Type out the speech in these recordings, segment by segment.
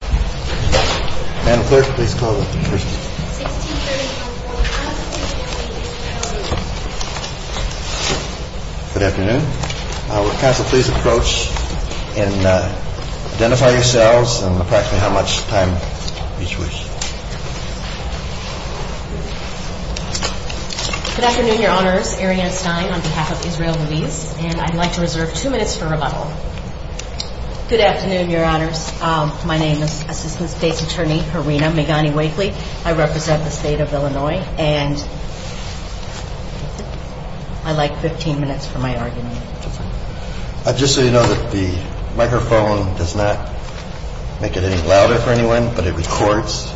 Good afternoon, Your Honors. Arianne Stein on behalf of Israel Ruiz, and I'd like to begin by saying that I am the Assistant State's Attorney, Karina Migani-Wakely. I represent the state of Illinois, and I'd like 15 minutes for my argument. Justice Breyer Just so you know, the microphone does not make it any louder for anyone, but it records.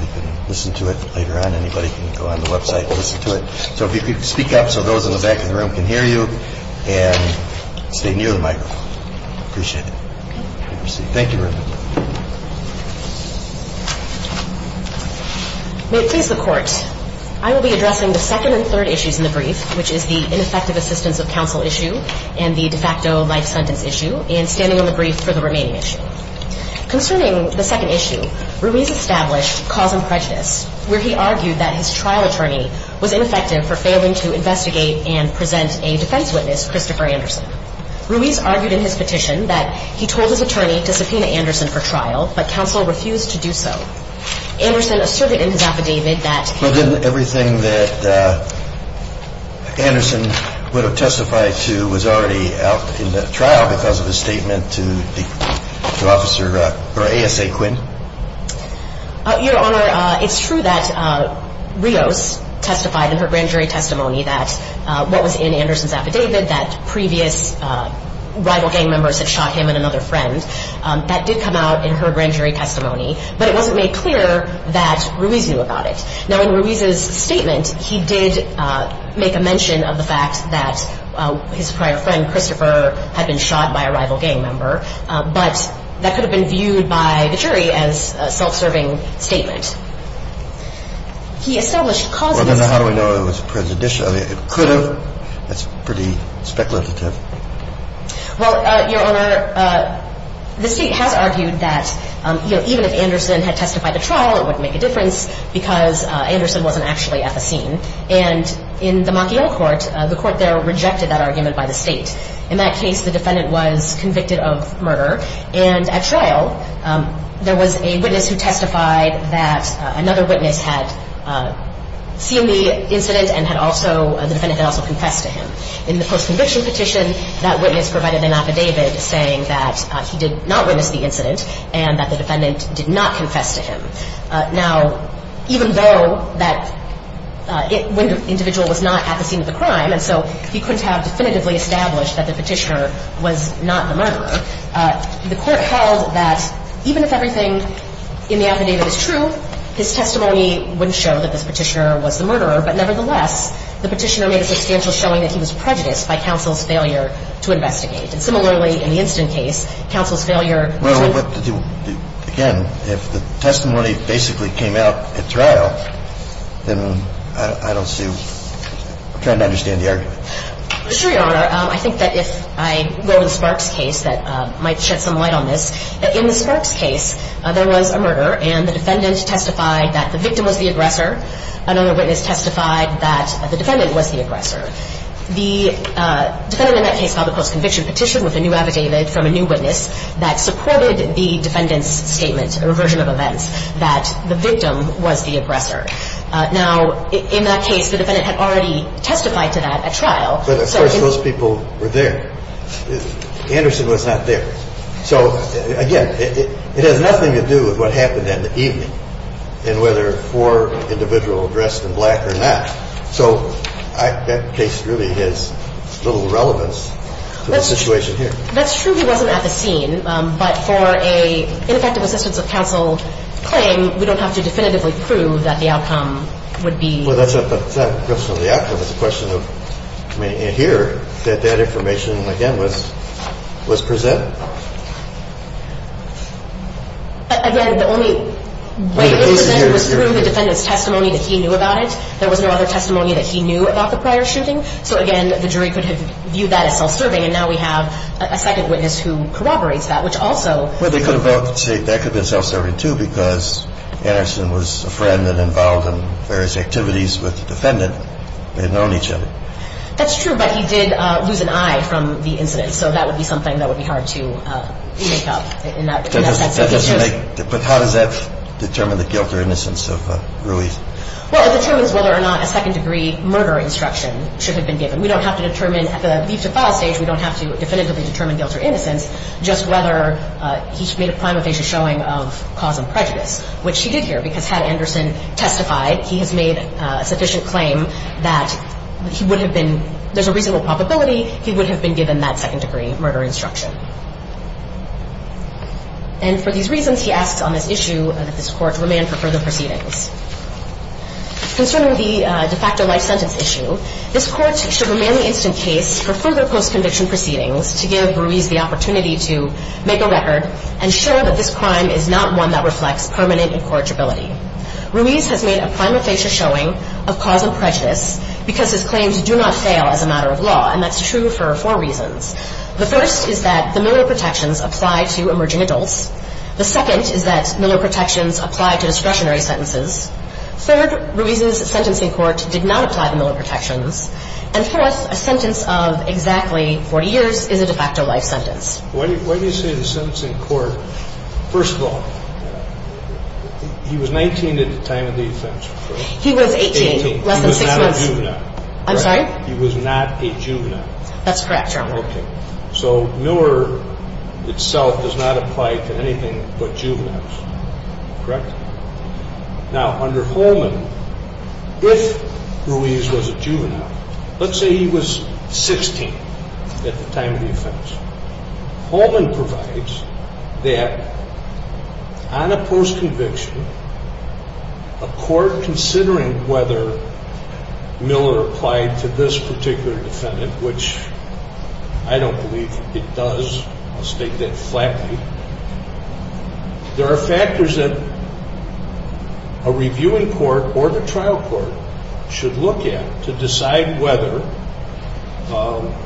You can listen to it later on. Anybody can go on the website and listen to it. So if you could speak up so those in the back of the room can hear you, and stay near the microphone. I appreciate it. Thank you very much. May it please the Court, I will be addressing the second and third issues in the brief, which is the ineffective assistance of counsel issue and the de facto life sentence issue, and standing on the brief for the remaining issue. Concerning the second issue, Ruiz established cause and prejudice, where he argued that his trial attorney was ineffective for failing to investigate and present a defense witness, Christopher Anderson. Ruiz argued in his petition that he told his attorney to subpoena Anderson for trial, but counsel refused to do so. Anderson asserted in his affidavit that But didn't everything that Anderson would have testified to was already out in the trial because of his statement to ASA Quinn? Your Honor, it's true that Ruiz testified in her grand jury testimony that what was in Anderson's affidavit, that previous rival gang members had shot him and another friend, that did come out in her grand jury testimony, but it wasn't made clear that Ruiz knew about it. Now, in Ruiz's statement, he did make a mention of the fact that his prior friend, Christopher, had been shot by a rival gang member, but that could have been viewed by the jury as a self-serving statement. He established causes Well, then how do we know it was prejudicial? It could have. That's pretty speculative. Well, Your Honor, the state has argued that even if Anderson had testified to trial, it wouldn't make a difference because Anderson wasn't actually at the scene. And in the Makiola court, the court there rejected that argument by the state. In that case, the defendant was convicted of murder. And at trial, there was a witness who testified that another witness had seen the incident and the defendant had also confessed to him. In the post-conviction petition, that witness provided an affidavit saying that he did not witness the incident and that the defendant did not confess to him. Now, even though that when the individual was not at the scene of the crime, and so he couldn't have definitively established that the petitioner was not the murderer, the court held that even if everything in the affidavit is true, his testimony wouldn't show that this petitioner was the murderer. But nevertheless, the petitioner made a substantial showing that he was prejudiced by counsel's failure to investigate. And similarly, in the instant case, counsel's failure to do – Well, again, if the testimony basically came out at trial, then I don't see – I'm trying to understand the argument. Sure, Your Honor. I think that if I go to the Sparks case, that might shed some light on this. In the Sparks case, there was a murder and the defendant testified that the victim was the aggressor. Another witness testified that the defendant was the aggressor. The defendant in that case filed a post-conviction petition with a new affidavit from a new witness that supported the defendant's statement or version of events that the victim was the aggressor. Now, in that case, the defendant had already testified to that at trial. But of course, those people were there. Anderson was not there. So, again, it has nothing to do with what happened in the evening and whether four individuals were dressed in black or not. So that case really has little relevance to the situation here. That's true he wasn't at the scene. But for an ineffective assistance of counsel claim, we don't have to definitively prove that the outcome would be – Well, that's not a question of the outcome. It's a question of – I mean, here, that information, again, was presented. Again, the only way it was presented was through the defendant's testimony that he knew about it. There was no other testimony that he knew about the prior shooting. So, again, the jury could have viewed that as self-serving. And now we have a second witness who corroborates that, which also – Well, they could have both said that could have been self-serving, too, because Anderson was a friend and involved in various activities with the defendant. They had known each other. That's true, but he did lose an eye from the incident. So that would be something that would be hard to make up in that sense. But how does that determine the guilt or innocence of Ruiz? Well, it determines whether or not a second-degree murder instruction should have been given. We don't have to determine – at the leave to file stage, we don't have to definitively determine guilt or innocence, just whether he made a crime of facial showing of cause of prejudice, which he did here, because had Anderson testified, he has made a sufficient claim that he would have been – there's a reasonable probability he would have been given that second-degree murder instruction. And for these reasons, he asks on this issue that this Court remand for further proceedings. Concerning the de facto life sentence issue, this Court should remand the instant case for further post-conviction proceedings to give Ruiz the opportunity to make a record and show that this crime is not one that reflects permanent incorrigibility. Ruiz has made a crime of facial showing of cause of prejudice because his claims do not fail as a matter of law, and that's true for four reasons. The first is that the Miller protections apply to emerging adults. The second is that Miller protections apply to discretionary sentences. Third, Ruiz's sentencing court did not apply the Miller protections. And fourth, a sentence of exactly 40 years is a de facto life sentence. Why do you say the sentencing court? First of all, he was 19 at the time of the offense, correct? He was 18, less than six months. He was not a juvenile. I'm sorry? He was not a juvenile. That's correct, Your Honor. Okay. So Miller itself does not apply to anything but juveniles, correct? Now, under Holman, if Ruiz was a juvenile, let's say he was 16 at the time of the offense, Holman provides that on a post-conviction, a court considering whether Miller applied to this particular defendant, which I don't believe it does. I'll state that flatly. There are factors that a reviewing court or the trial court should look at to decide whether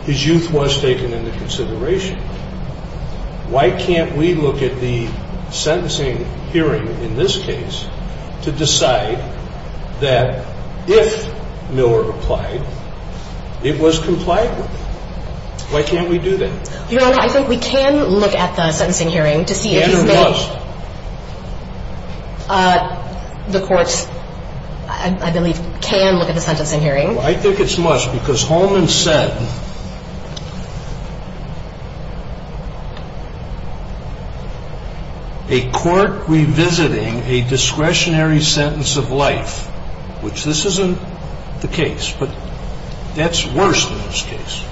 his youth was taken into consideration. Why can't we look at the sentencing hearing in this case to decide that if Miller applied, it was complied with? Why can't we do that? Your Honor, I think we can look at the sentencing hearing to see if he's been – And who was? The courts, I believe, can look at the sentencing hearing. I think it's must because Holman said, a court revisiting a discretionary sentence of life, which this isn't the case, but that's worse than this case,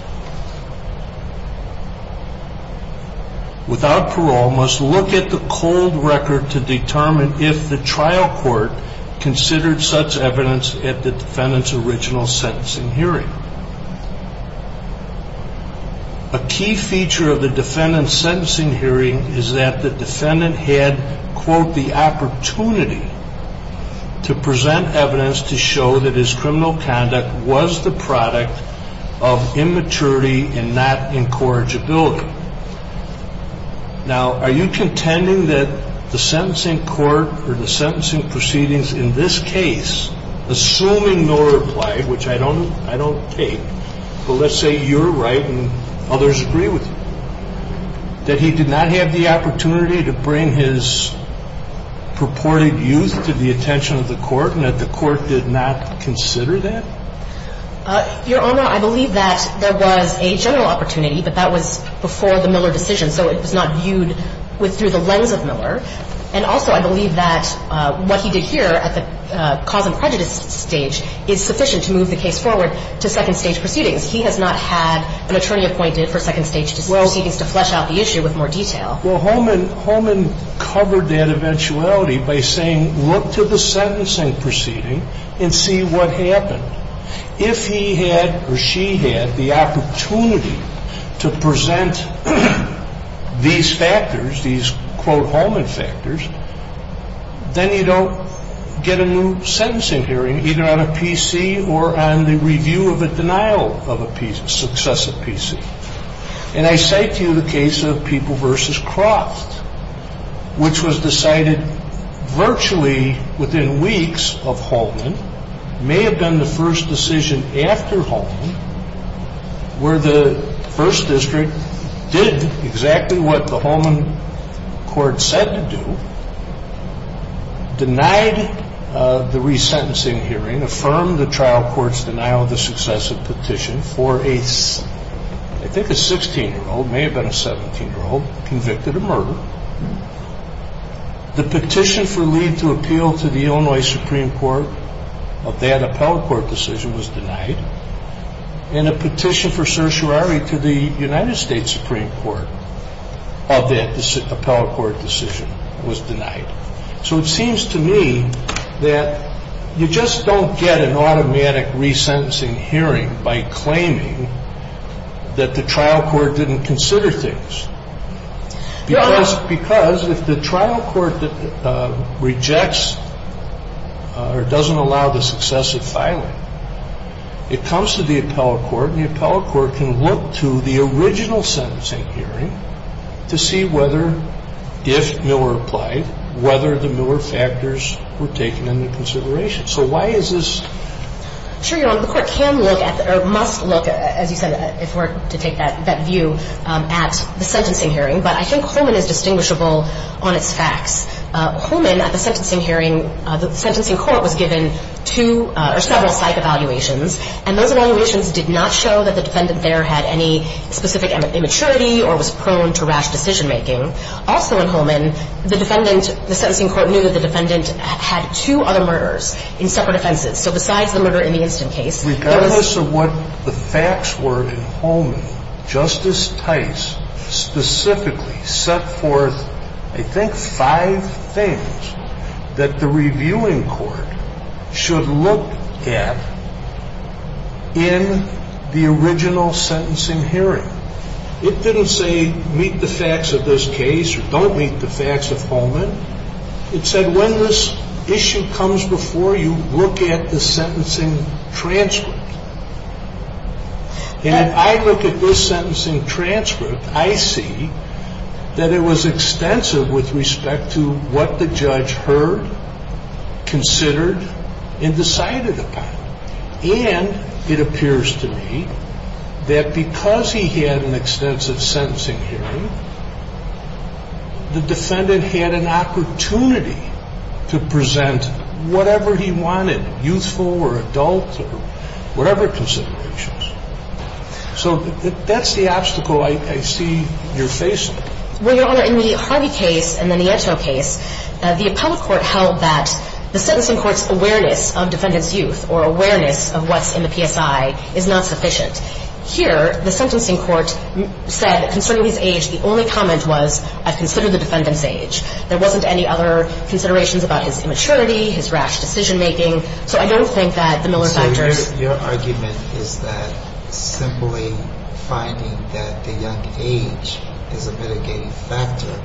without parole must look at the cold record to determine if the trial court considered such evidence at the defendant's original sentencing hearing. A key feature of the defendant's sentencing hearing is that the defendant had, quote, the opportunity to present evidence to show that his criminal conduct was the product of immaturity and not incorrigibility. Now, are you contending that the sentencing court or the sentencing proceedings in this case, assuming Miller applied, which I don't take, but let's say you're right and others agree with you, that he did not have the opportunity to bring his purported youth to the attention of the court and that the court did not consider that? Your Honor, I believe that there was a general opportunity, but that was before the Miller decision, so it was not viewed through the lens of Miller. And also I believe that what he did here at the cause and prejudice stage is sufficient to move the case forward to second-stage proceedings. He has not had an attorney appointed for second-stage proceedings to flesh out the issue with more detail. Well, Holman covered that eventuality by saying, look to the sentencing proceeding and see what happened. If he had or she had the opportunity to present these factors, these, quote, Holman factors, then you don't get a new sentencing hearing either on a PC or on the review of a denial of a PC, successive PC. And I cite to you the case of People v. Croft, which was decided virtually within weeks of Holman, may have been the first decision after Holman, where the first district did exactly what the Holman court said to do, denied the resentencing hearing, affirmed the trial court's denial of the successive petition for a, I think a 16-year-old, may have been a 17-year-old, convicted of murder. The petition for leave to appeal to the Illinois Supreme Court of that appellate court decision was denied. And a petition for certiorari to the United States Supreme Court of that appellate court decision was denied. So it seems to me that you just don't get an automatic resentencing hearing by claiming that the trial court didn't consider things. Because if the trial court rejects or doesn't allow the successive filing, it comes to the appellate court, and the appellate court can look to the original sentencing hearing to see whether, if Miller applied, whether the Miller factors were taken into consideration. So why is this? Sure, Your Honor. The court can look at, or must look, as you said, if we're to take that view, at the sentencing hearing. But I think Holman is distinguishable on its facts. Holman, at the sentencing hearing, the sentencing court was given two or several psych evaluations, and those evaluations did not show that the defendant there had any specific immaturity or was prone to rash decision-making. Also in Holman, the defendant, the sentencing court knew that the defendant had two other murders in separate offenses. So besides the murder in the Inston case, there was... Regardless of what the facts were in Holman, Justice Tice specifically set forth, I think, five things that the reviewing court should look at in the original sentencing hearing. It didn't say meet the facts of this case or don't meet the facts of Holman. It said when this issue comes before you, look at the sentencing transcript. And if I look at this sentencing transcript, I see that it was extensive with respect to what the judge heard, considered, and decided upon. And it appears to me that because he had an extensive sentencing hearing, the defendant had an opportunity to present whatever he wanted, youthful or adult or whatever considerations. So that's the obstacle I see you're facing. Well, Your Honor, in the Harvey case and then the Edgehill case, the appellate court held that the sentencing court's awareness of defendant's youth or awareness of what's in the PSI is not sufficient. Here, the sentencing court said concerning his age, the only comment was I've considered the defendant's age. There wasn't any other considerations about his immaturity, his rash decision-making. So I don't think that the Miller factors. So your argument is that simply finding that the young age is a mitigating factor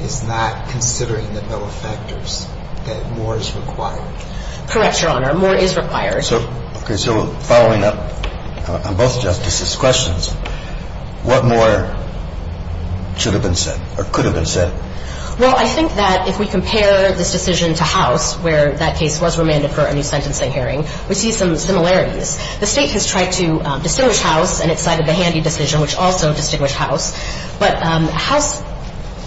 is not considering the Miller factors, that more is required. Correct, Your Honor. More is required. So, okay. So following up on both Justices' questions, what more should have been said or could have been said? Well, I think that if we compare this decision to House where that case was remanded for a new sentencing hearing, we see some similarities. The State has tried to distinguish House in its side of the Handy decision, which also distinguished House. But House,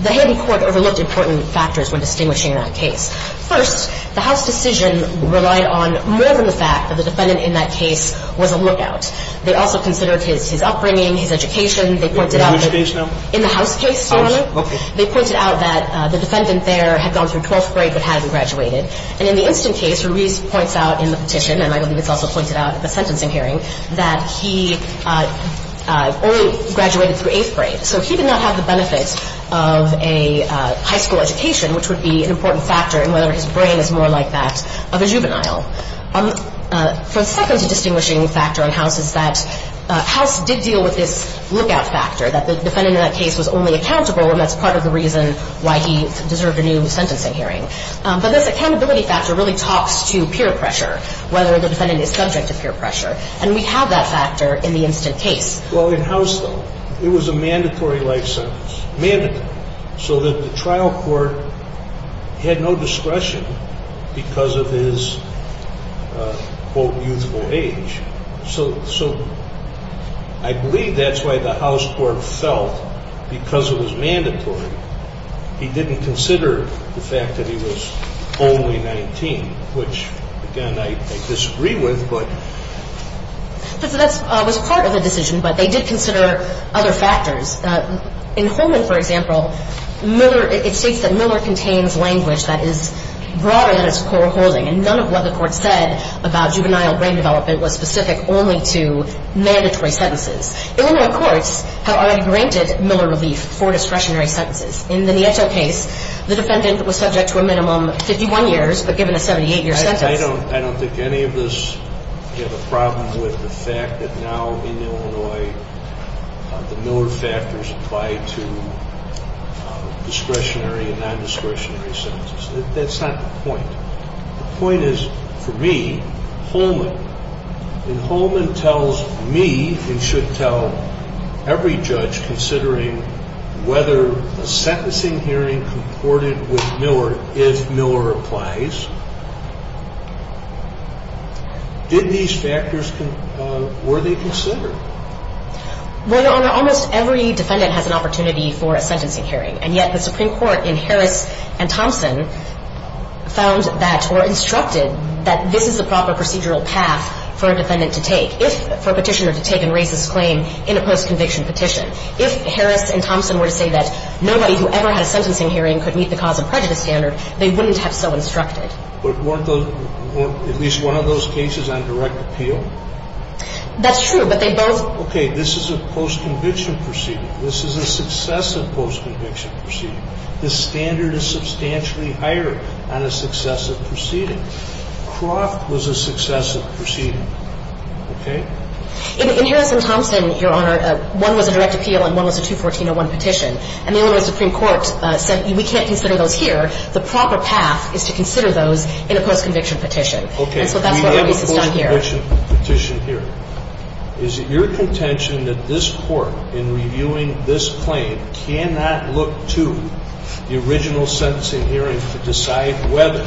the Handy court overlooked important factors when distinguishing that case. First, the House decision relied on more than the fact that the defendant in that case was a lookout. They also considered his upbringing, his education. They pointed out that- In whose case now? In the House case, Your Honor. Okay. They pointed out that the defendant there had gone through 12th grade but hadn't graduated. And in the instant case, Ruiz points out in the petition, and I believe it's also pointed out in the sentencing hearing, that he only graduated through 8th grade. So he did not have the benefits of a high school education, which would be an important factor in whether his brain is more like that of a juvenile. For the second distinguishing factor in House is that House did deal with this lookout factor, that the defendant in that case was only accountable, and that's part of the reason why he deserved a new sentencing hearing. But this accountability factor really talks to peer pressure, whether the defendant is subject to peer pressure. And we have that factor in the instant case. Well, in House, though, it was a mandatory life sentence. Mandatory. So that the trial court had no discretion because of his, quote, youthful age. So I believe that's why the House court felt, because it was mandatory, he didn't consider the fact that he was only 19, which, again, I disagree with, but. That was part of the decision, but they did consider other factors. In Holman, for example, Miller, it states that Miller contains language that is broader than its core holding. And none of what the court said about juvenile brain development was specific only to mandatory sentences. Illinois courts have already granted Miller relief for discretionary sentences. In the Nieto case, the defendant was subject to a minimum 51 years, but given a 78-year sentence. I don't think any of us have a problem with the fact that now in Illinois the lower factors apply to discretionary and non-discretionary sentences. That's not the point. The point is, for me, Holman, and Holman tells me, and should tell every judge considering whether a sentencing hearing comported with Miller, if Miller applies, did these factors, were they considered? Well, Your Honor, almost every defendant has an opportunity for a sentencing hearing. And yet the Supreme Court in Harris and Thompson found that or instructed that this is the proper procedural path for a defendant to take, for a petitioner to take and raise his claim in a post-conviction petition. If Harris and Thompson were to say that nobody who ever had a sentencing hearing could meet the cause of prejudice standard, they wouldn't have so instructed. But weren't those at least one of those cases on direct appeal? That's true, but they both – Okay. This is a post-conviction proceeding. This is a successive post-conviction proceeding. The standard is substantially higher on a successive proceeding. Croft was a successive proceeding. Okay? In Harris and Thompson, Your Honor, one was a direct appeal and one was a 214-01 petition. And the Illinois Supreme Court said we can't consider those here. The proper path is to consider those in a post-conviction petition. Okay. So that's what Harris has done here. You have a post-conviction petition here. Is it your contention that this Court, in reviewing this claim, cannot look to the original sentencing hearing to decide whether,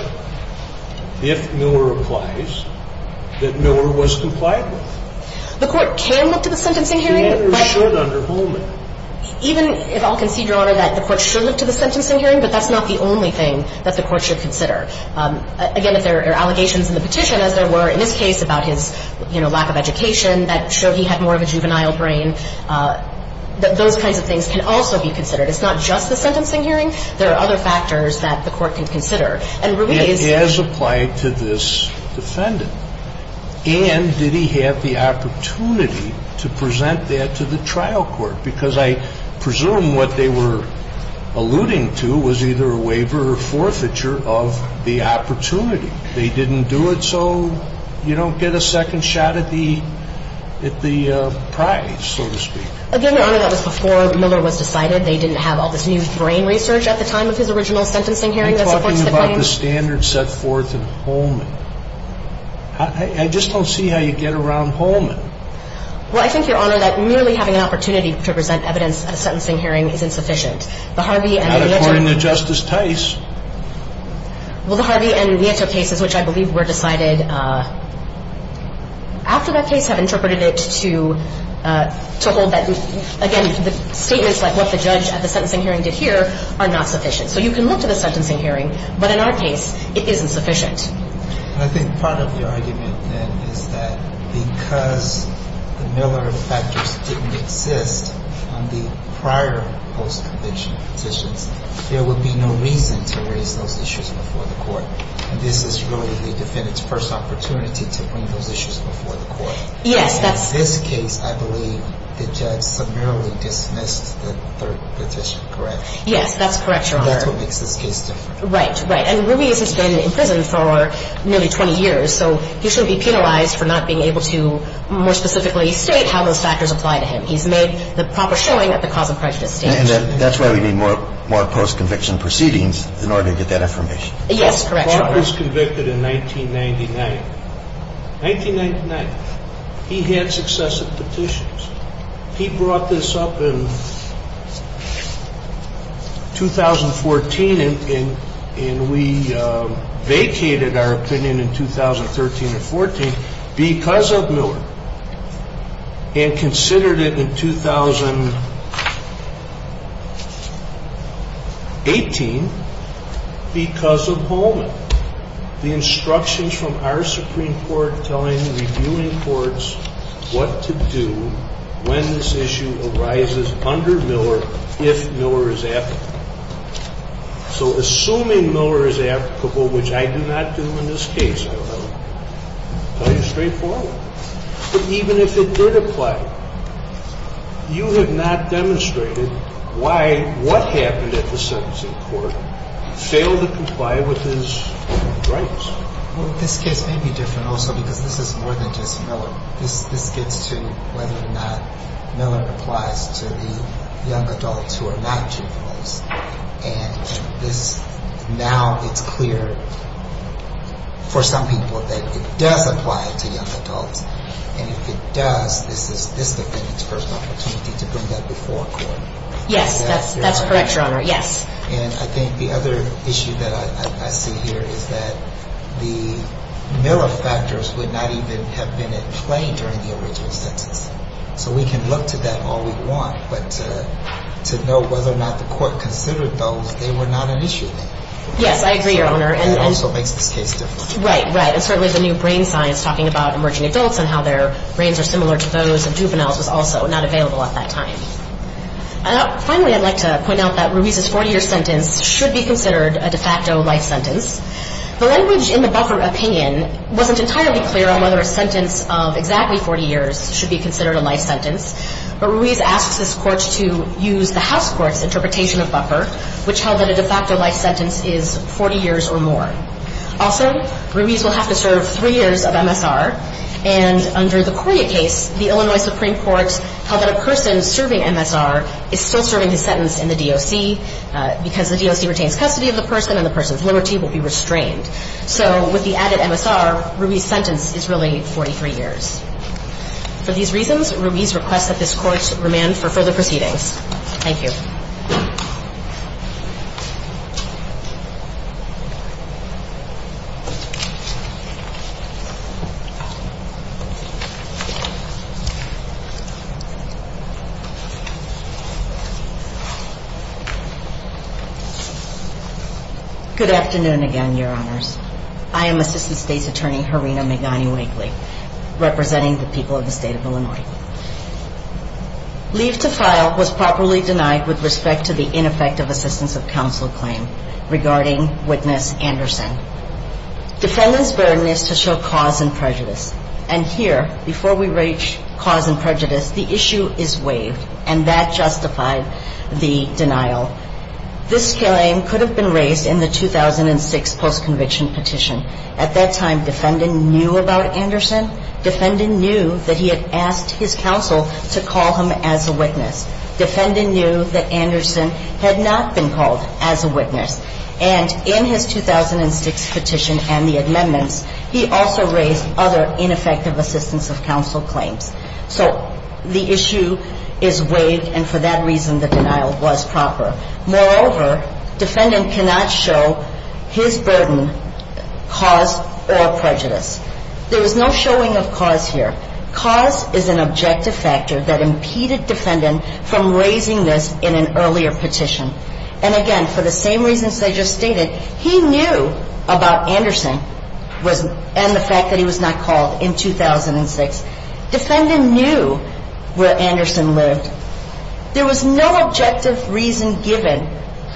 if Miller applies, that Miller was compliant with it? The Court can look to the sentencing hearing, but – Miller should under Holman. Even if I'll concede, Your Honor, that the Court should look to the sentencing hearing, but that's not the only thing that the Court should consider. Again, if there are allegations in the petition, as there were in this case about his, you know, lack of education, that showed he had more of a juvenile brain, those kinds of things can also be considered. It's not just the sentencing hearing. There are other factors that the Court can consider. And Rubin is – And as applied to this defendant. And did he have the opportunity to present that to the trial court? Because I presume what they were alluding to was either a waiver or forfeiture of the opportunity. They didn't do it so you don't get a second shot at the prize, so to speak. Again, Your Honor, that was before Miller was decided. They didn't have all this new brain research at the time of his original sentencing hearing that supports the claim. You're talking about the standards set forth in Holman. I just don't see how you get around Holman. Well, I think, Your Honor, that merely having an opportunity to present evidence at a sentencing hearing is insufficient. The Harvey and – Not according to Justice Tice. Well, the Harvey and Nieto cases, which I believe were decided after that case, have interpreted it to hold that, again, the statements like what the judge at the sentencing hearing did here are not sufficient. So you can look to the sentencing hearing, but in our case, it isn't sufficient. I think part of your argument, then, is that because the Miller factors didn't exist on the prior post-conviction petitions, there would be no reason to raise those issues before the court. And this is really the defendant's first opportunity to bring those issues before the court. Yes, that's – And in this case, I believe the judge summarily dismissed the third petition, correct? Yes, that's correct, Your Honor. And that's what makes this case different. Right, right. And Ruiz has been in prison for nearly 20 years, so he shouldn't be penalized for not being able to more specifically state how those factors apply to him. He's made the proper showing at the cause of prejudice stage. And that's why we need more post-conviction proceedings in order to get that information. Yes, correct, Your Honor. Clark was convicted in 1999. 1999. He had successive petitions. He brought this up in 2014, and we vacated our opinion in 2013 and 2014 because of Miller and considered it in 2018 because of Holman. The instructions from our Supreme Court telling the reviewing courts what to do when this issue arises under Miller if Miller is applicable. So assuming Miller is applicable, which I do not do in this case, I will tell you straightforward. But even if it did apply, you have not demonstrated why what happened at the sentencing court failed to comply with his rights. Well, this case may be different also because this is more than just Miller. This gets to whether or not Miller applies to the young adults who are not juveniles. And this now it's clear for some people that it does apply to young adults. And if it does, this is this defendant's first opportunity to bring that before court. Yes, that's correct, Your Honor. Yes. And I think the other issue that I see here is that the Miller factors would not even have been in play during the original sentence. So we can look to them all we want, but to know whether or not the court considered those, they were not an issue then. Yes, I agree, Your Honor. And that also makes this case different. Right, right. And certainly the new brain science talking about emerging adults and how their brains are similar to those of juveniles was also not available at that time. Finally, I'd like to point out that Ruiz's 40-year sentence should be considered a de facto life sentence. The language in the Buffer opinion wasn't entirely clear on whether a sentence of exactly 40 years should be considered a life sentence. But Ruiz asked this court to use the House Court's interpretation of Buffer, which held that a de facto life sentence is 40 years or more. Also, Ruiz will have to serve three years of MSR. And under the Coria case, the Illinois Supreme Court held that a person serving MSR is still serving his sentence in the DOC because the DOC retains custody of the person and the person's liberty will be restrained. So with the added MSR, Ruiz's sentence is really 43 years. For these reasons, Ruiz requests that this court remand for further proceedings. Thank you. Good afternoon again, Your Honors. I am Assistant State's Attorney Harina Megani-Wakely, representing the people of the state of Illinois. Leave to file was properly denied with respect to the ineffective assistance of counsel claim regarding witness Anderson. Defendant's burden is to show cause and prejudice. And here, before we reach cause and prejudice, the issue is waived and that justified the denial. This claim could have been raised in the 2006 post-conviction petition. At that time, defendant knew about Anderson. Defendant knew that he had asked his counsel to call him as a witness. Defendant knew that Anderson had not been called as a witness. And in his 2006 petition and the amendments, he also raised other ineffective assistance of counsel claims. So the issue is waived, and for that reason, the denial was proper. Moreover, defendant cannot show his burden, cause, or prejudice. There is no showing of cause here. Cause is an objective factor that impeded defendant from raising this in an earlier petition. And again, for the same reasons I just stated, he knew about Anderson and the fact that he was not called in 2006. Defendant knew where Anderson lived. There was no objective reason given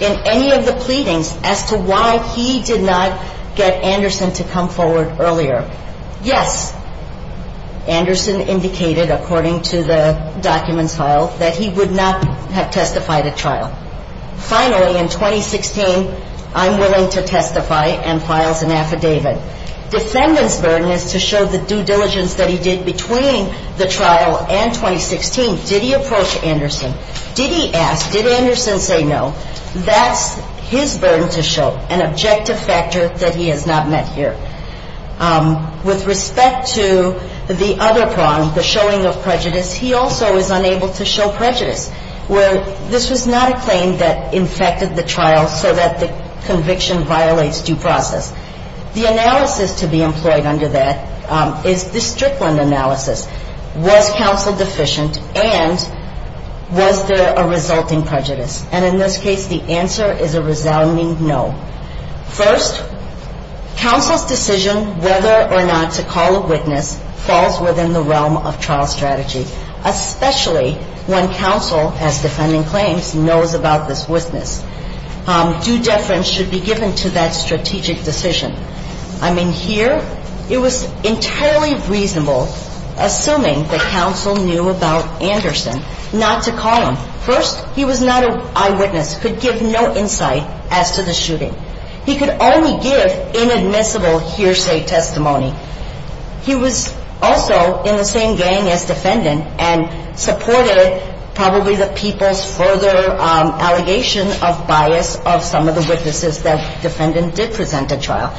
in any of the pleadings as to why he did not get Anderson to come forward earlier. Yes, Anderson indicated, according to the documents filed, that he would not have testified at trial. Finally, in 2016, I'm willing to testify and files an affidavit. Defendant's burden is to show the due diligence that he did between the trial and 2016. Did he approach Anderson? Did he ask? Did Anderson say no? That's his burden to show, an objective factor that he has not met here. With respect to the other problem, the showing of prejudice, he also is unable to show prejudice, where this was not a claim that infected the trial so that the conviction violates due process. The analysis to be employed under that is the Strickland analysis. Was counsel deficient, and was there a resulting prejudice? And in this case, the answer is a resounding no. First, counsel's decision whether or not to call a witness falls within the realm of trial strategy, especially when counsel, as defending claims, knows about this witness. Due deference should be given to that strategic decision. I mean, here, it was entirely reasonable, assuming that counsel knew about Anderson, not to call him. First, he was not an eyewitness, could give no insight as to the shooting. He could only give inadmissible hearsay testimony. He was also in the same gang as defendant and supported probably the people's further allegation of bias of some of the witnesses that defendant did present at trial.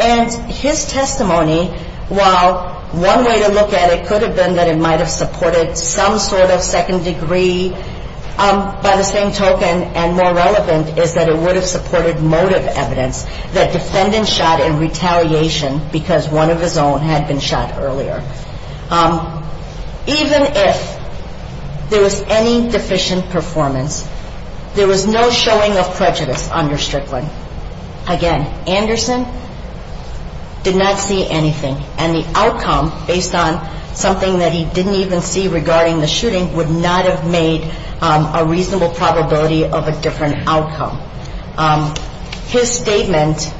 And his testimony, while one way to look at it could have been that it might have supported some sort of second degree by the same token and more relevant is that it would have supported motive evidence that defendant shot in retaliation because one of his own had been shot earlier. Even if there was any deficient performance, there was no showing of prejudice under Strickland. Again, Anderson did not see anything. And the outcome, based on something that he didn't even see regarding the shooting, would not have made a reasonable probability of a different outcome. His statement,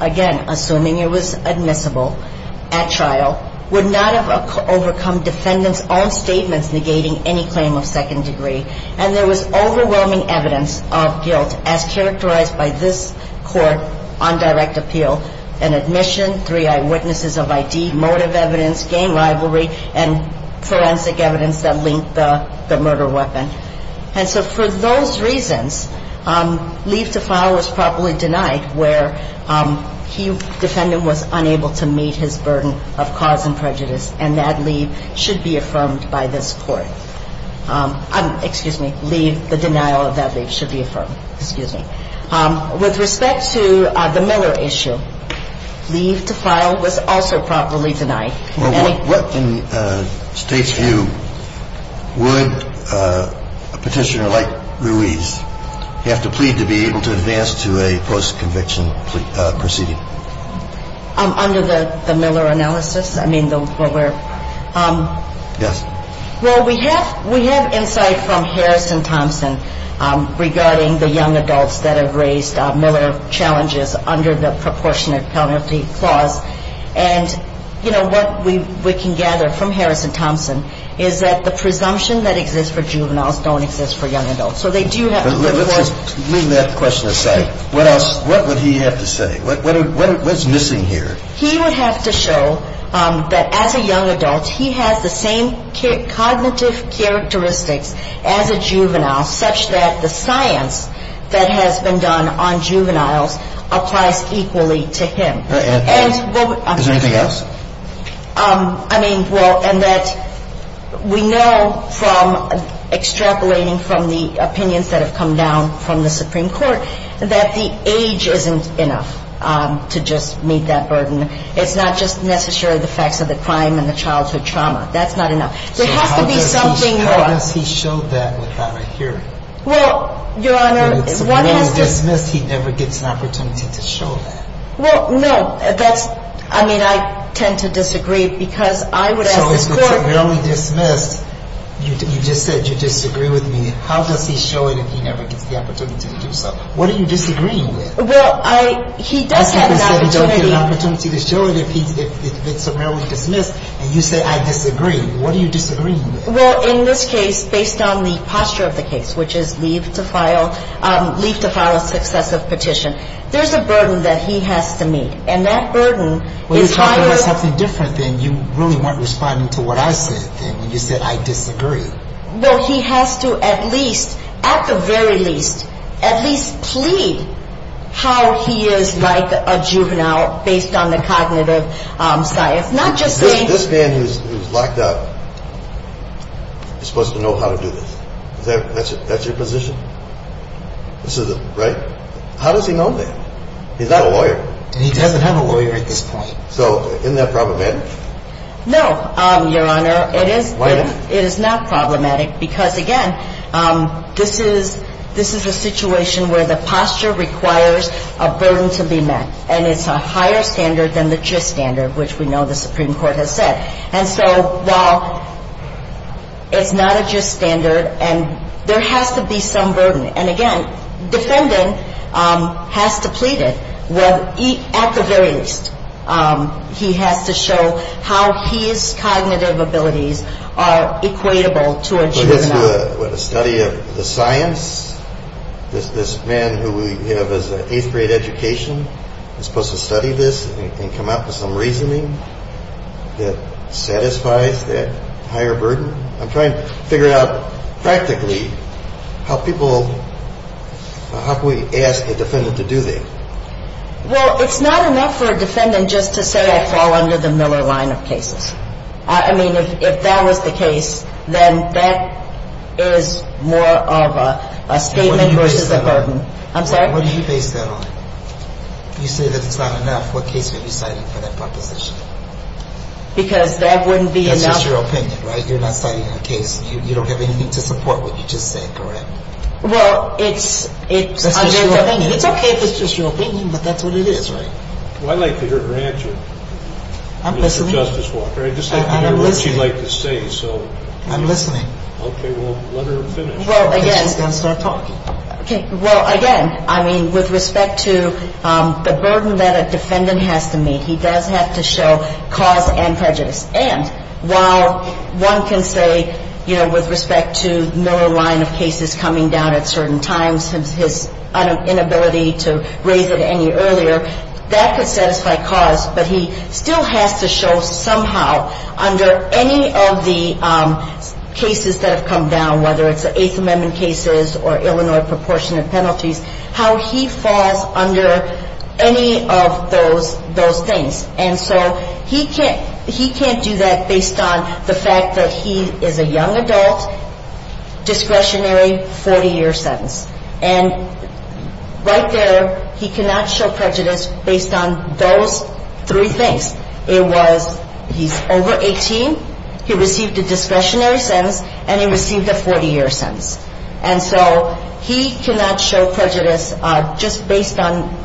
again, assuming it was admissible at trial, would not have overcome defendant's own statements negating any claim of second degree. And there was overwhelming evidence of guilt as characterized by this court on direct appeal and admission, three eyewitnesses of ID, motive evidence, gang rivalry, and forensic evidence that linked the murder weapon. And so for those reasons, leave to file was properly denied where he, defendant, was unable to meet his burden of cause and prejudice. And that leave should be affirmed by this court. Excuse me, leave, the denial of that leave should be affirmed. Excuse me. With respect to the Miller issue, leave to file was also properly denied. What, in the State's view, would a petitioner like Ruiz have to plead to be able to advance to a post-conviction proceeding? Under the Miller analysis? Yes. Well, we have insight from Harrison Thompson regarding the young adults that have raised Miller challenges under the proportionate penalty clause. And, you know, what we can gather from Harrison Thompson is that the presumption that exists for juveniles don't exist for young adults. So they do have to put forth. But let's just leave that question aside. What else, what would he have to say? What's missing here? He would have to show that as a young adult, he has the same cognitive characteristics as a juvenile such that the science that has been done on juveniles applies equally to him. And, well, obviously. Is there anything else? I mean, well, and that we know from extrapolating from the opinions that have come down from the Supreme Court that the age isn't enough to just meet that burden. It's not just necessarily the facts of the crime and the childhood trauma. That's not enough. There has to be something more. So how does he show that without a hearing? Well, Your Honor, one has to – When he's dismissed, he never gets an opportunity to show that. Well, no. That's – I mean, I tend to disagree because I would ask the court – So if it's merely dismissed, you just said you disagree with me. How does he show it if he never gets the opportunity to do so? What are you disagreeing with? Well, I – he does have an opportunity – I said he doesn't get an opportunity to show it if it's merely dismissed, and you say I disagree. What are you disagreeing with? Well, in this case, based on the posture of the case, which is leave to file a successive petition, there's a burden that he has to meet, and that burden is higher – Well, you're talking about something different than you really weren't responding to what I said then when you said I disagree. Well, he has to at least, at the very least, at least plead how he is like a juvenile based on the cognitive science, not just saying – This man who's locked up is supposed to know how to do this. That's your position? Right? But how does he know that? He's not a lawyer. And he doesn't have a lawyer at this point. So isn't that problematic? No, Your Honor. Why not? It is not problematic because, again, this is – this is a situation where the posture requires a burden to be met, and it's a higher standard than the gist standard, which we know the Supreme Court has said. And so while it's not a gist standard and there has to be some burden – and, again, defendant has to plead it. Well, at the very least, he has to show how his cognitive abilities are equatable to a juvenile. So he has to do a study of the science? This man who we have as an eighth-grade education is supposed to study this and come up with some reasoning that satisfies that higher burden? I'm trying to figure out practically how people – how can we ask a defendant to do that? Well, it's not enough for a defendant just to say I fall under the Miller line of cases. I mean, if that was the case, then that is more of a statement versus a burden. I'm sorry? What do you base that on? You say that it's not enough. What case are you citing for that proposition? Because that wouldn't be enough. That's your opinion, right? You're not citing a case. You don't have anything to support what you just said, correct? Well, it's – That's just your opinion. It's okay if it's just your opinion, but that's what it is, right? Well, I'd like to hear her answer, Mr. Justice Walker. I'm listening. I'd just like to hear what she'd like to say. I'm listening. Okay. Well, let her finish. Well, again – She's got to start talking. Okay. Well, again, I mean, with respect to the burden that a defendant has to meet, he does have to show cause and prejudice. And while one can say, you know, with respect to Miller line of cases coming down at certain times, his inability to raise it any earlier, that could satisfy cause, but he still has to show somehow under any of the cases that have come down, whether it's the Eighth Amendment cases or Illinois proportionate penalties, how he falls under any of those things. And so he can't do that based on the fact that he is a young adult, discretionary 40-year sentence. And right there, he cannot show prejudice based on those three things. It was he's over 18, he received a discretionary sentence, and he received a 40-year sentence. And so he cannot show prejudice just based on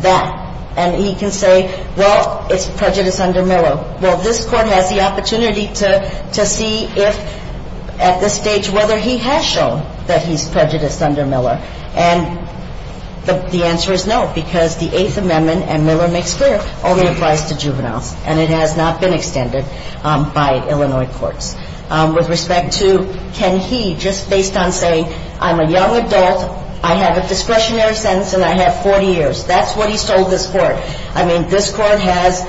that. And he can say, well, it's prejudice under Miller. Well, this Court has the opportunity to see if at this stage, whether he has shown that he's prejudiced under Miller. And the answer is no, because the Eighth Amendment, and Miller makes clear, only applies to juveniles. And it has not been extended by Illinois courts. With respect to can he just based on saying, I'm a young adult, I have a discretionary sentence, and I have 40 years. That's what he's told this Court. I mean, this Court has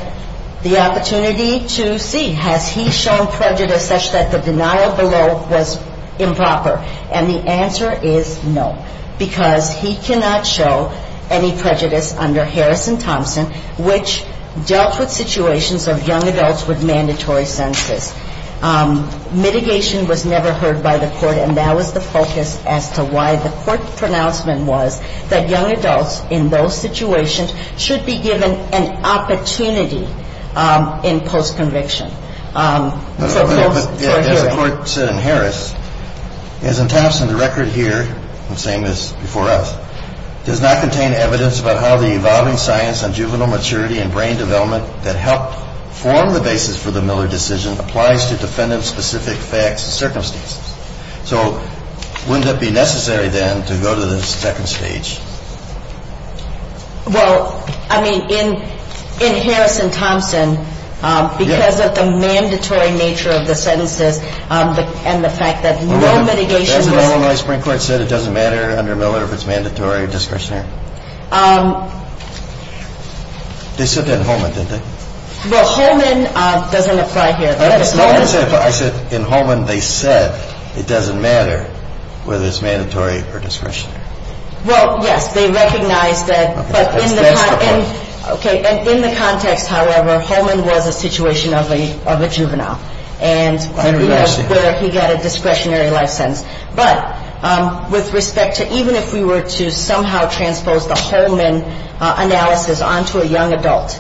the opportunity to see, has he shown prejudice such that the denial below was improper? And the answer is no, because he cannot show any prejudice under Harris and Thompson, which dealt with situations of young adults with mandatory sentences. Mitigation was never heard by the Court, and that was the focus as to why the Court's pronouncement was that young adults in those situations should be given an opportunity in post-conviction for hearing. As the Court said in Harris, as in Thompson, the record here, I'm saying this before us, does not contain evidence about how the evolving science on juvenile maturity and brain development that helped form the basis for the Miller decision applies to defendant-specific facts and circumstances. So wouldn't it be necessary, then, to go to the second stage? Well, I mean, in Harris and Thompson, because of the mandatory nature of the sentences and the fact that no mitigation was – Well, doesn't Illinois Supreme Court say it doesn't matter under Miller if it's mandatory or discretionary? They said that in Holman, didn't they? Well, Holman doesn't apply here. I said in Holman they said it doesn't matter whether it's mandatory or discretionary. Well, yes, they recognize that, but in the context, however, Holman was a situation of a juvenile. And we don't know whether he got a discretionary license. But with respect to – even if we were to somehow transpose the Holman analysis onto a young adult,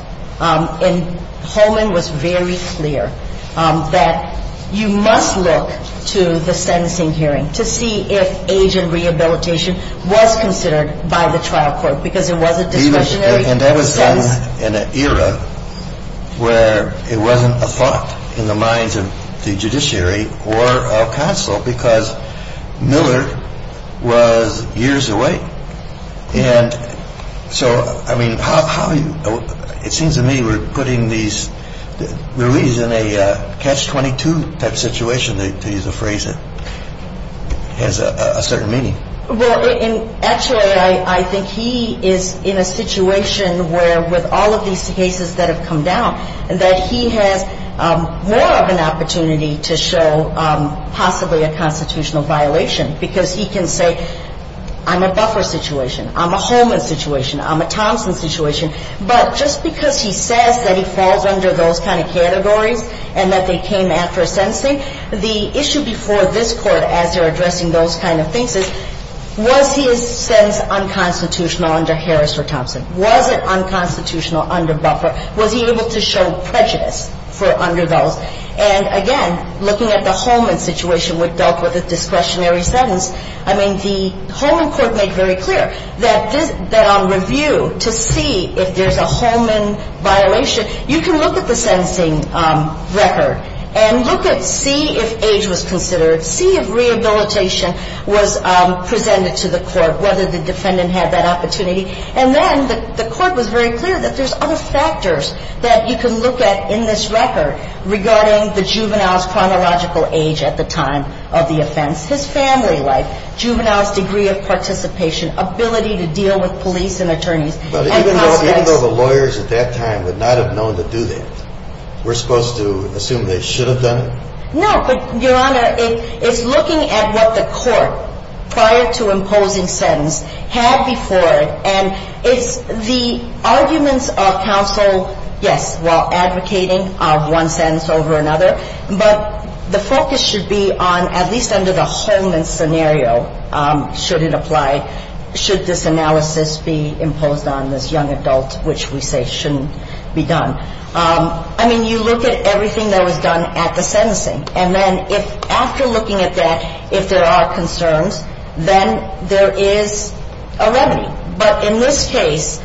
in – Holman was very clear that you must look to the sentencing hearing to see if age and rehabilitation was considered by the trial court because it wasn't discretionary. And that was done in an era where it wasn't a thought in the minds of the judiciary or counsel because Miller was years away. And so, I mean, how – it seems to me we're putting these release in a catch-22 type situation, to use a phrase that has a certain meaning. Well, actually, I think he is in a situation where with all of these cases that have come down, that he has more of an opportunity to show possibly a constitutional violation because he can say I'm a Buffer situation, I'm a Holman situation, I'm a Thompson situation. But just because he says that he falls under those kind of categories and that they came after a sentencing, the issue before this Court as they're addressing those kind of things is was his sentence unconstitutional under Harris or Thompson? Was it unconstitutional under Buffer? Was he able to show prejudice for under those? And, again, looking at the Holman situation where it dealt with a discretionary sentence, I mean, the Holman court made very clear that on review to see if there's a Holman violation, you can look at the sentencing record and look at see if age was considered, see if rehabilitation was presented to the court, whether the defendant had that opportunity. And then the court was very clear that there's other factors that you can look at in this record regarding the juvenile's chronological age at the time of the offense, his family life, juvenile's degree of participation, ability to deal with police and attorneys. But even though the lawyers at that time would not have known to do that, we're supposed to assume they should have done it? No, but, Your Honor, it's looking at what the court prior to imposing sentence had before and it's the arguments of counsel, yes, while advocating of one sentence over another, but the focus should be on at least under the Holman scenario should it apply, should this analysis be imposed on this young adult, which we say shouldn't be done. I mean, you look at everything that was done at the sentencing. And then if after looking at that, if there are concerns, then there is a remedy. But in this case,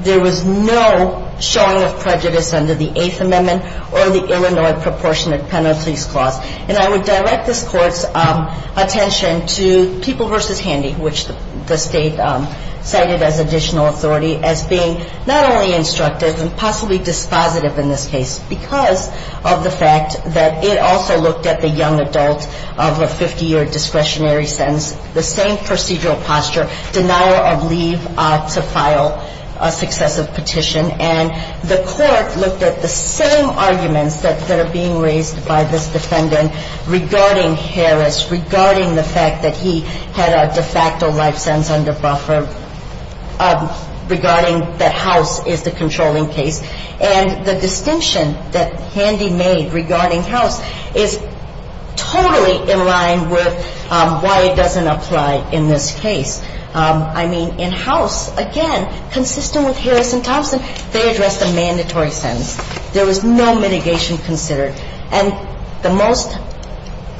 there was no showing of prejudice under the Eighth Amendment or the Illinois Proportionate Penalties Clause. And I would direct this Court's attention to People v. Handy, which the State cited as additional authority as being not only instructive but also a little bit more restrictive. It was the same procedure, but it was impossibly dispositive in this case because of the fact that it also looked at the young adult of a 50-year discretionary sentence, the same procedural posture, denial of leave to file a successive petition. And the Court looked at the same arguments that are being raised by this defendant regarding Harris, regarding the fact that he had a de facto life sentence under buffer, regarding that House is the controlling case. And the distinction that Handy made regarding House is totally in line with why it doesn't apply in this case. I mean, in House, again, consistent with Harris and Thompson, they addressed a mandatory sentence. There was no mitigation considered. And the most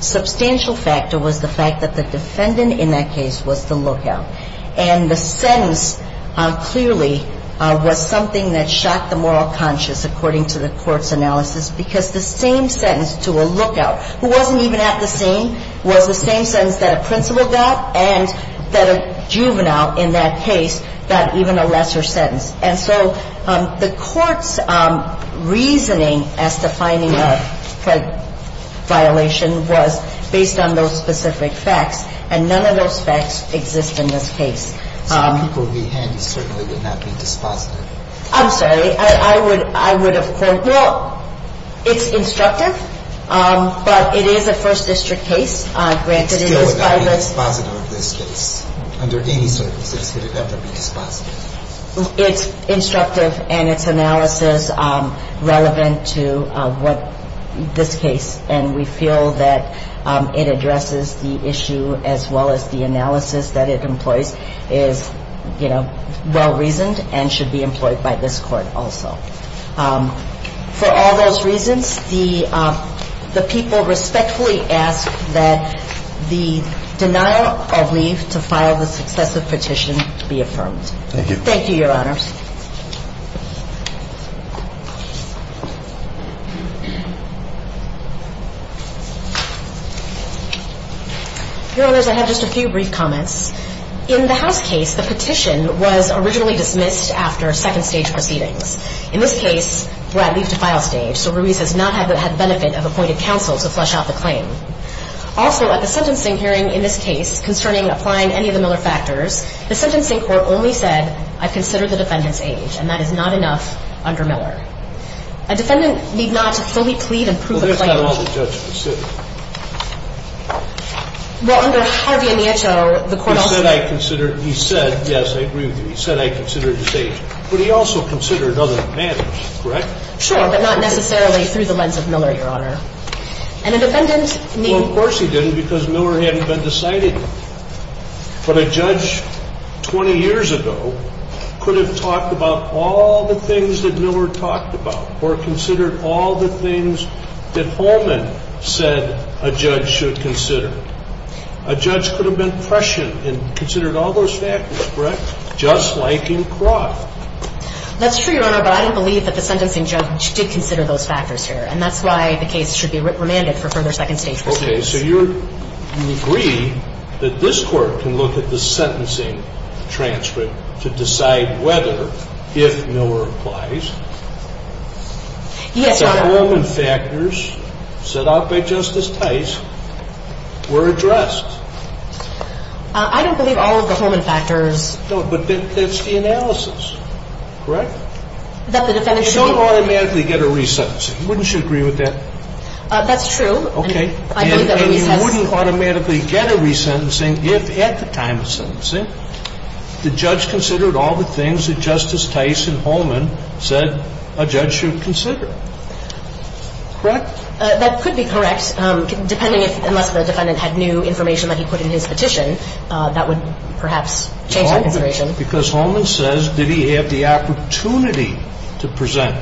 substantial factor was the fact that the defendant in that case was the lookout. And the sentence clearly was something that shocked the moral conscious, according to the Court's analysis, because the same sentence to a lookout, who wasn't even at the scene, was the same sentence that a principal got and that a juvenile in that case got even a lesser sentence. And so the Court's reasoning as to finding a credit violation was based on those specific facts, and none of those facts exist in this case. So the people behind you certainly would not be dispositive? I'm sorry. I would of course – well, it's instructive, but it is a First District case. It still would not be dispositive of this case. Under any circumstances could it ever be dispositive? It's instructive, and it's analysis relevant to this case. And we feel that it addresses the issue as well as the analysis that it employs is, you know, well-reasoned and should be employed by this Court also. For all those reasons, the people respectfully ask that the denial of leave to file the successive petition be affirmed. Thank you. Thank you, Your Honors. Your Honors, I have just a few brief comments. In the House case, the petition was originally dismissed after second-stage proceedings. In this case, Brad leaves the file stage, so Ruiz has not had the benefit of appointed counsel to flesh out the claim. Also, at the sentencing hearing in this case concerning applying any of the Miller factors, the sentencing court only said, I consider the defendant's age, and that is not enough under Miller. A defendant need not fully plead and prove a claim. Well, that's not all the judge considered. Well, under Harvey and Nietzsche, the court also – He said, I consider – he said – yes, I agree with you. He said, I consider his age, but he also considered other matters, correct? Sure, but not necessarily through the lens of Miller, Your Honor. And a defendant need – Well, of course he didn't because Miller hadn't been decided yet. But a judge 20 years ago could have talked about all the things that Miller talked about or considered all the things that Holman said a judge should consider. A judge could have been prescient and considered all those factors, correct? Just like in Croft. That's true, Your Honor, but I don't believe that the sentencing judge did consider those factors here. And that's why the case should be remanded for further second-stage proceedings. Okay. So you're – you agree that this Court can look at the sentencing transcript to decide whether, if Miller applies, Yes, Your Honor. the Holman factors set out by Justice Tice were addressed? I don't believe all of the Holman factors – No, but that's the analysis, correct? That the defendant should – You don't automatically get a resentencing. Wouldn't you agree with that? That's true. Okay. And you wouldn't automatically get a resentencing if, at the time of sentencing, the judge considered all the things that Justice Tice and Holman said a judge should consider, correct? That could be correct, depending if – unless the defendant had new information that he put in his petition. That would perhaps change the consideration. Because Holman says, did he have the opportunity to present?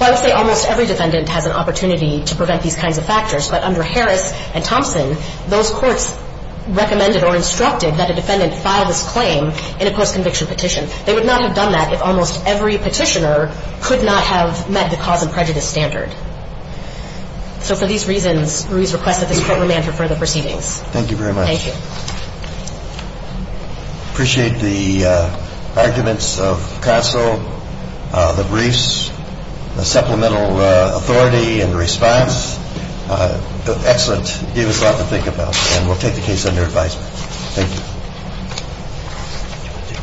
Well, I would say almost every defendant has an opportunity to present these kinds of factors. But under Harris and Thompson, those courts recommended or instructed that a defendant file this claim in a post-conviction petition. They would not have done that if almost every petitioner could not have met the cause and prejudice standard. So for these reasons, Ruiz requests that this Court remand for further proceedings. Thank you very much. Thank you. Appreciate the arguments of counsel, the briefs, the supplemental authority and response. Excellent. Gave us a lot to think about. And we'll take the case under advisement. Thank you.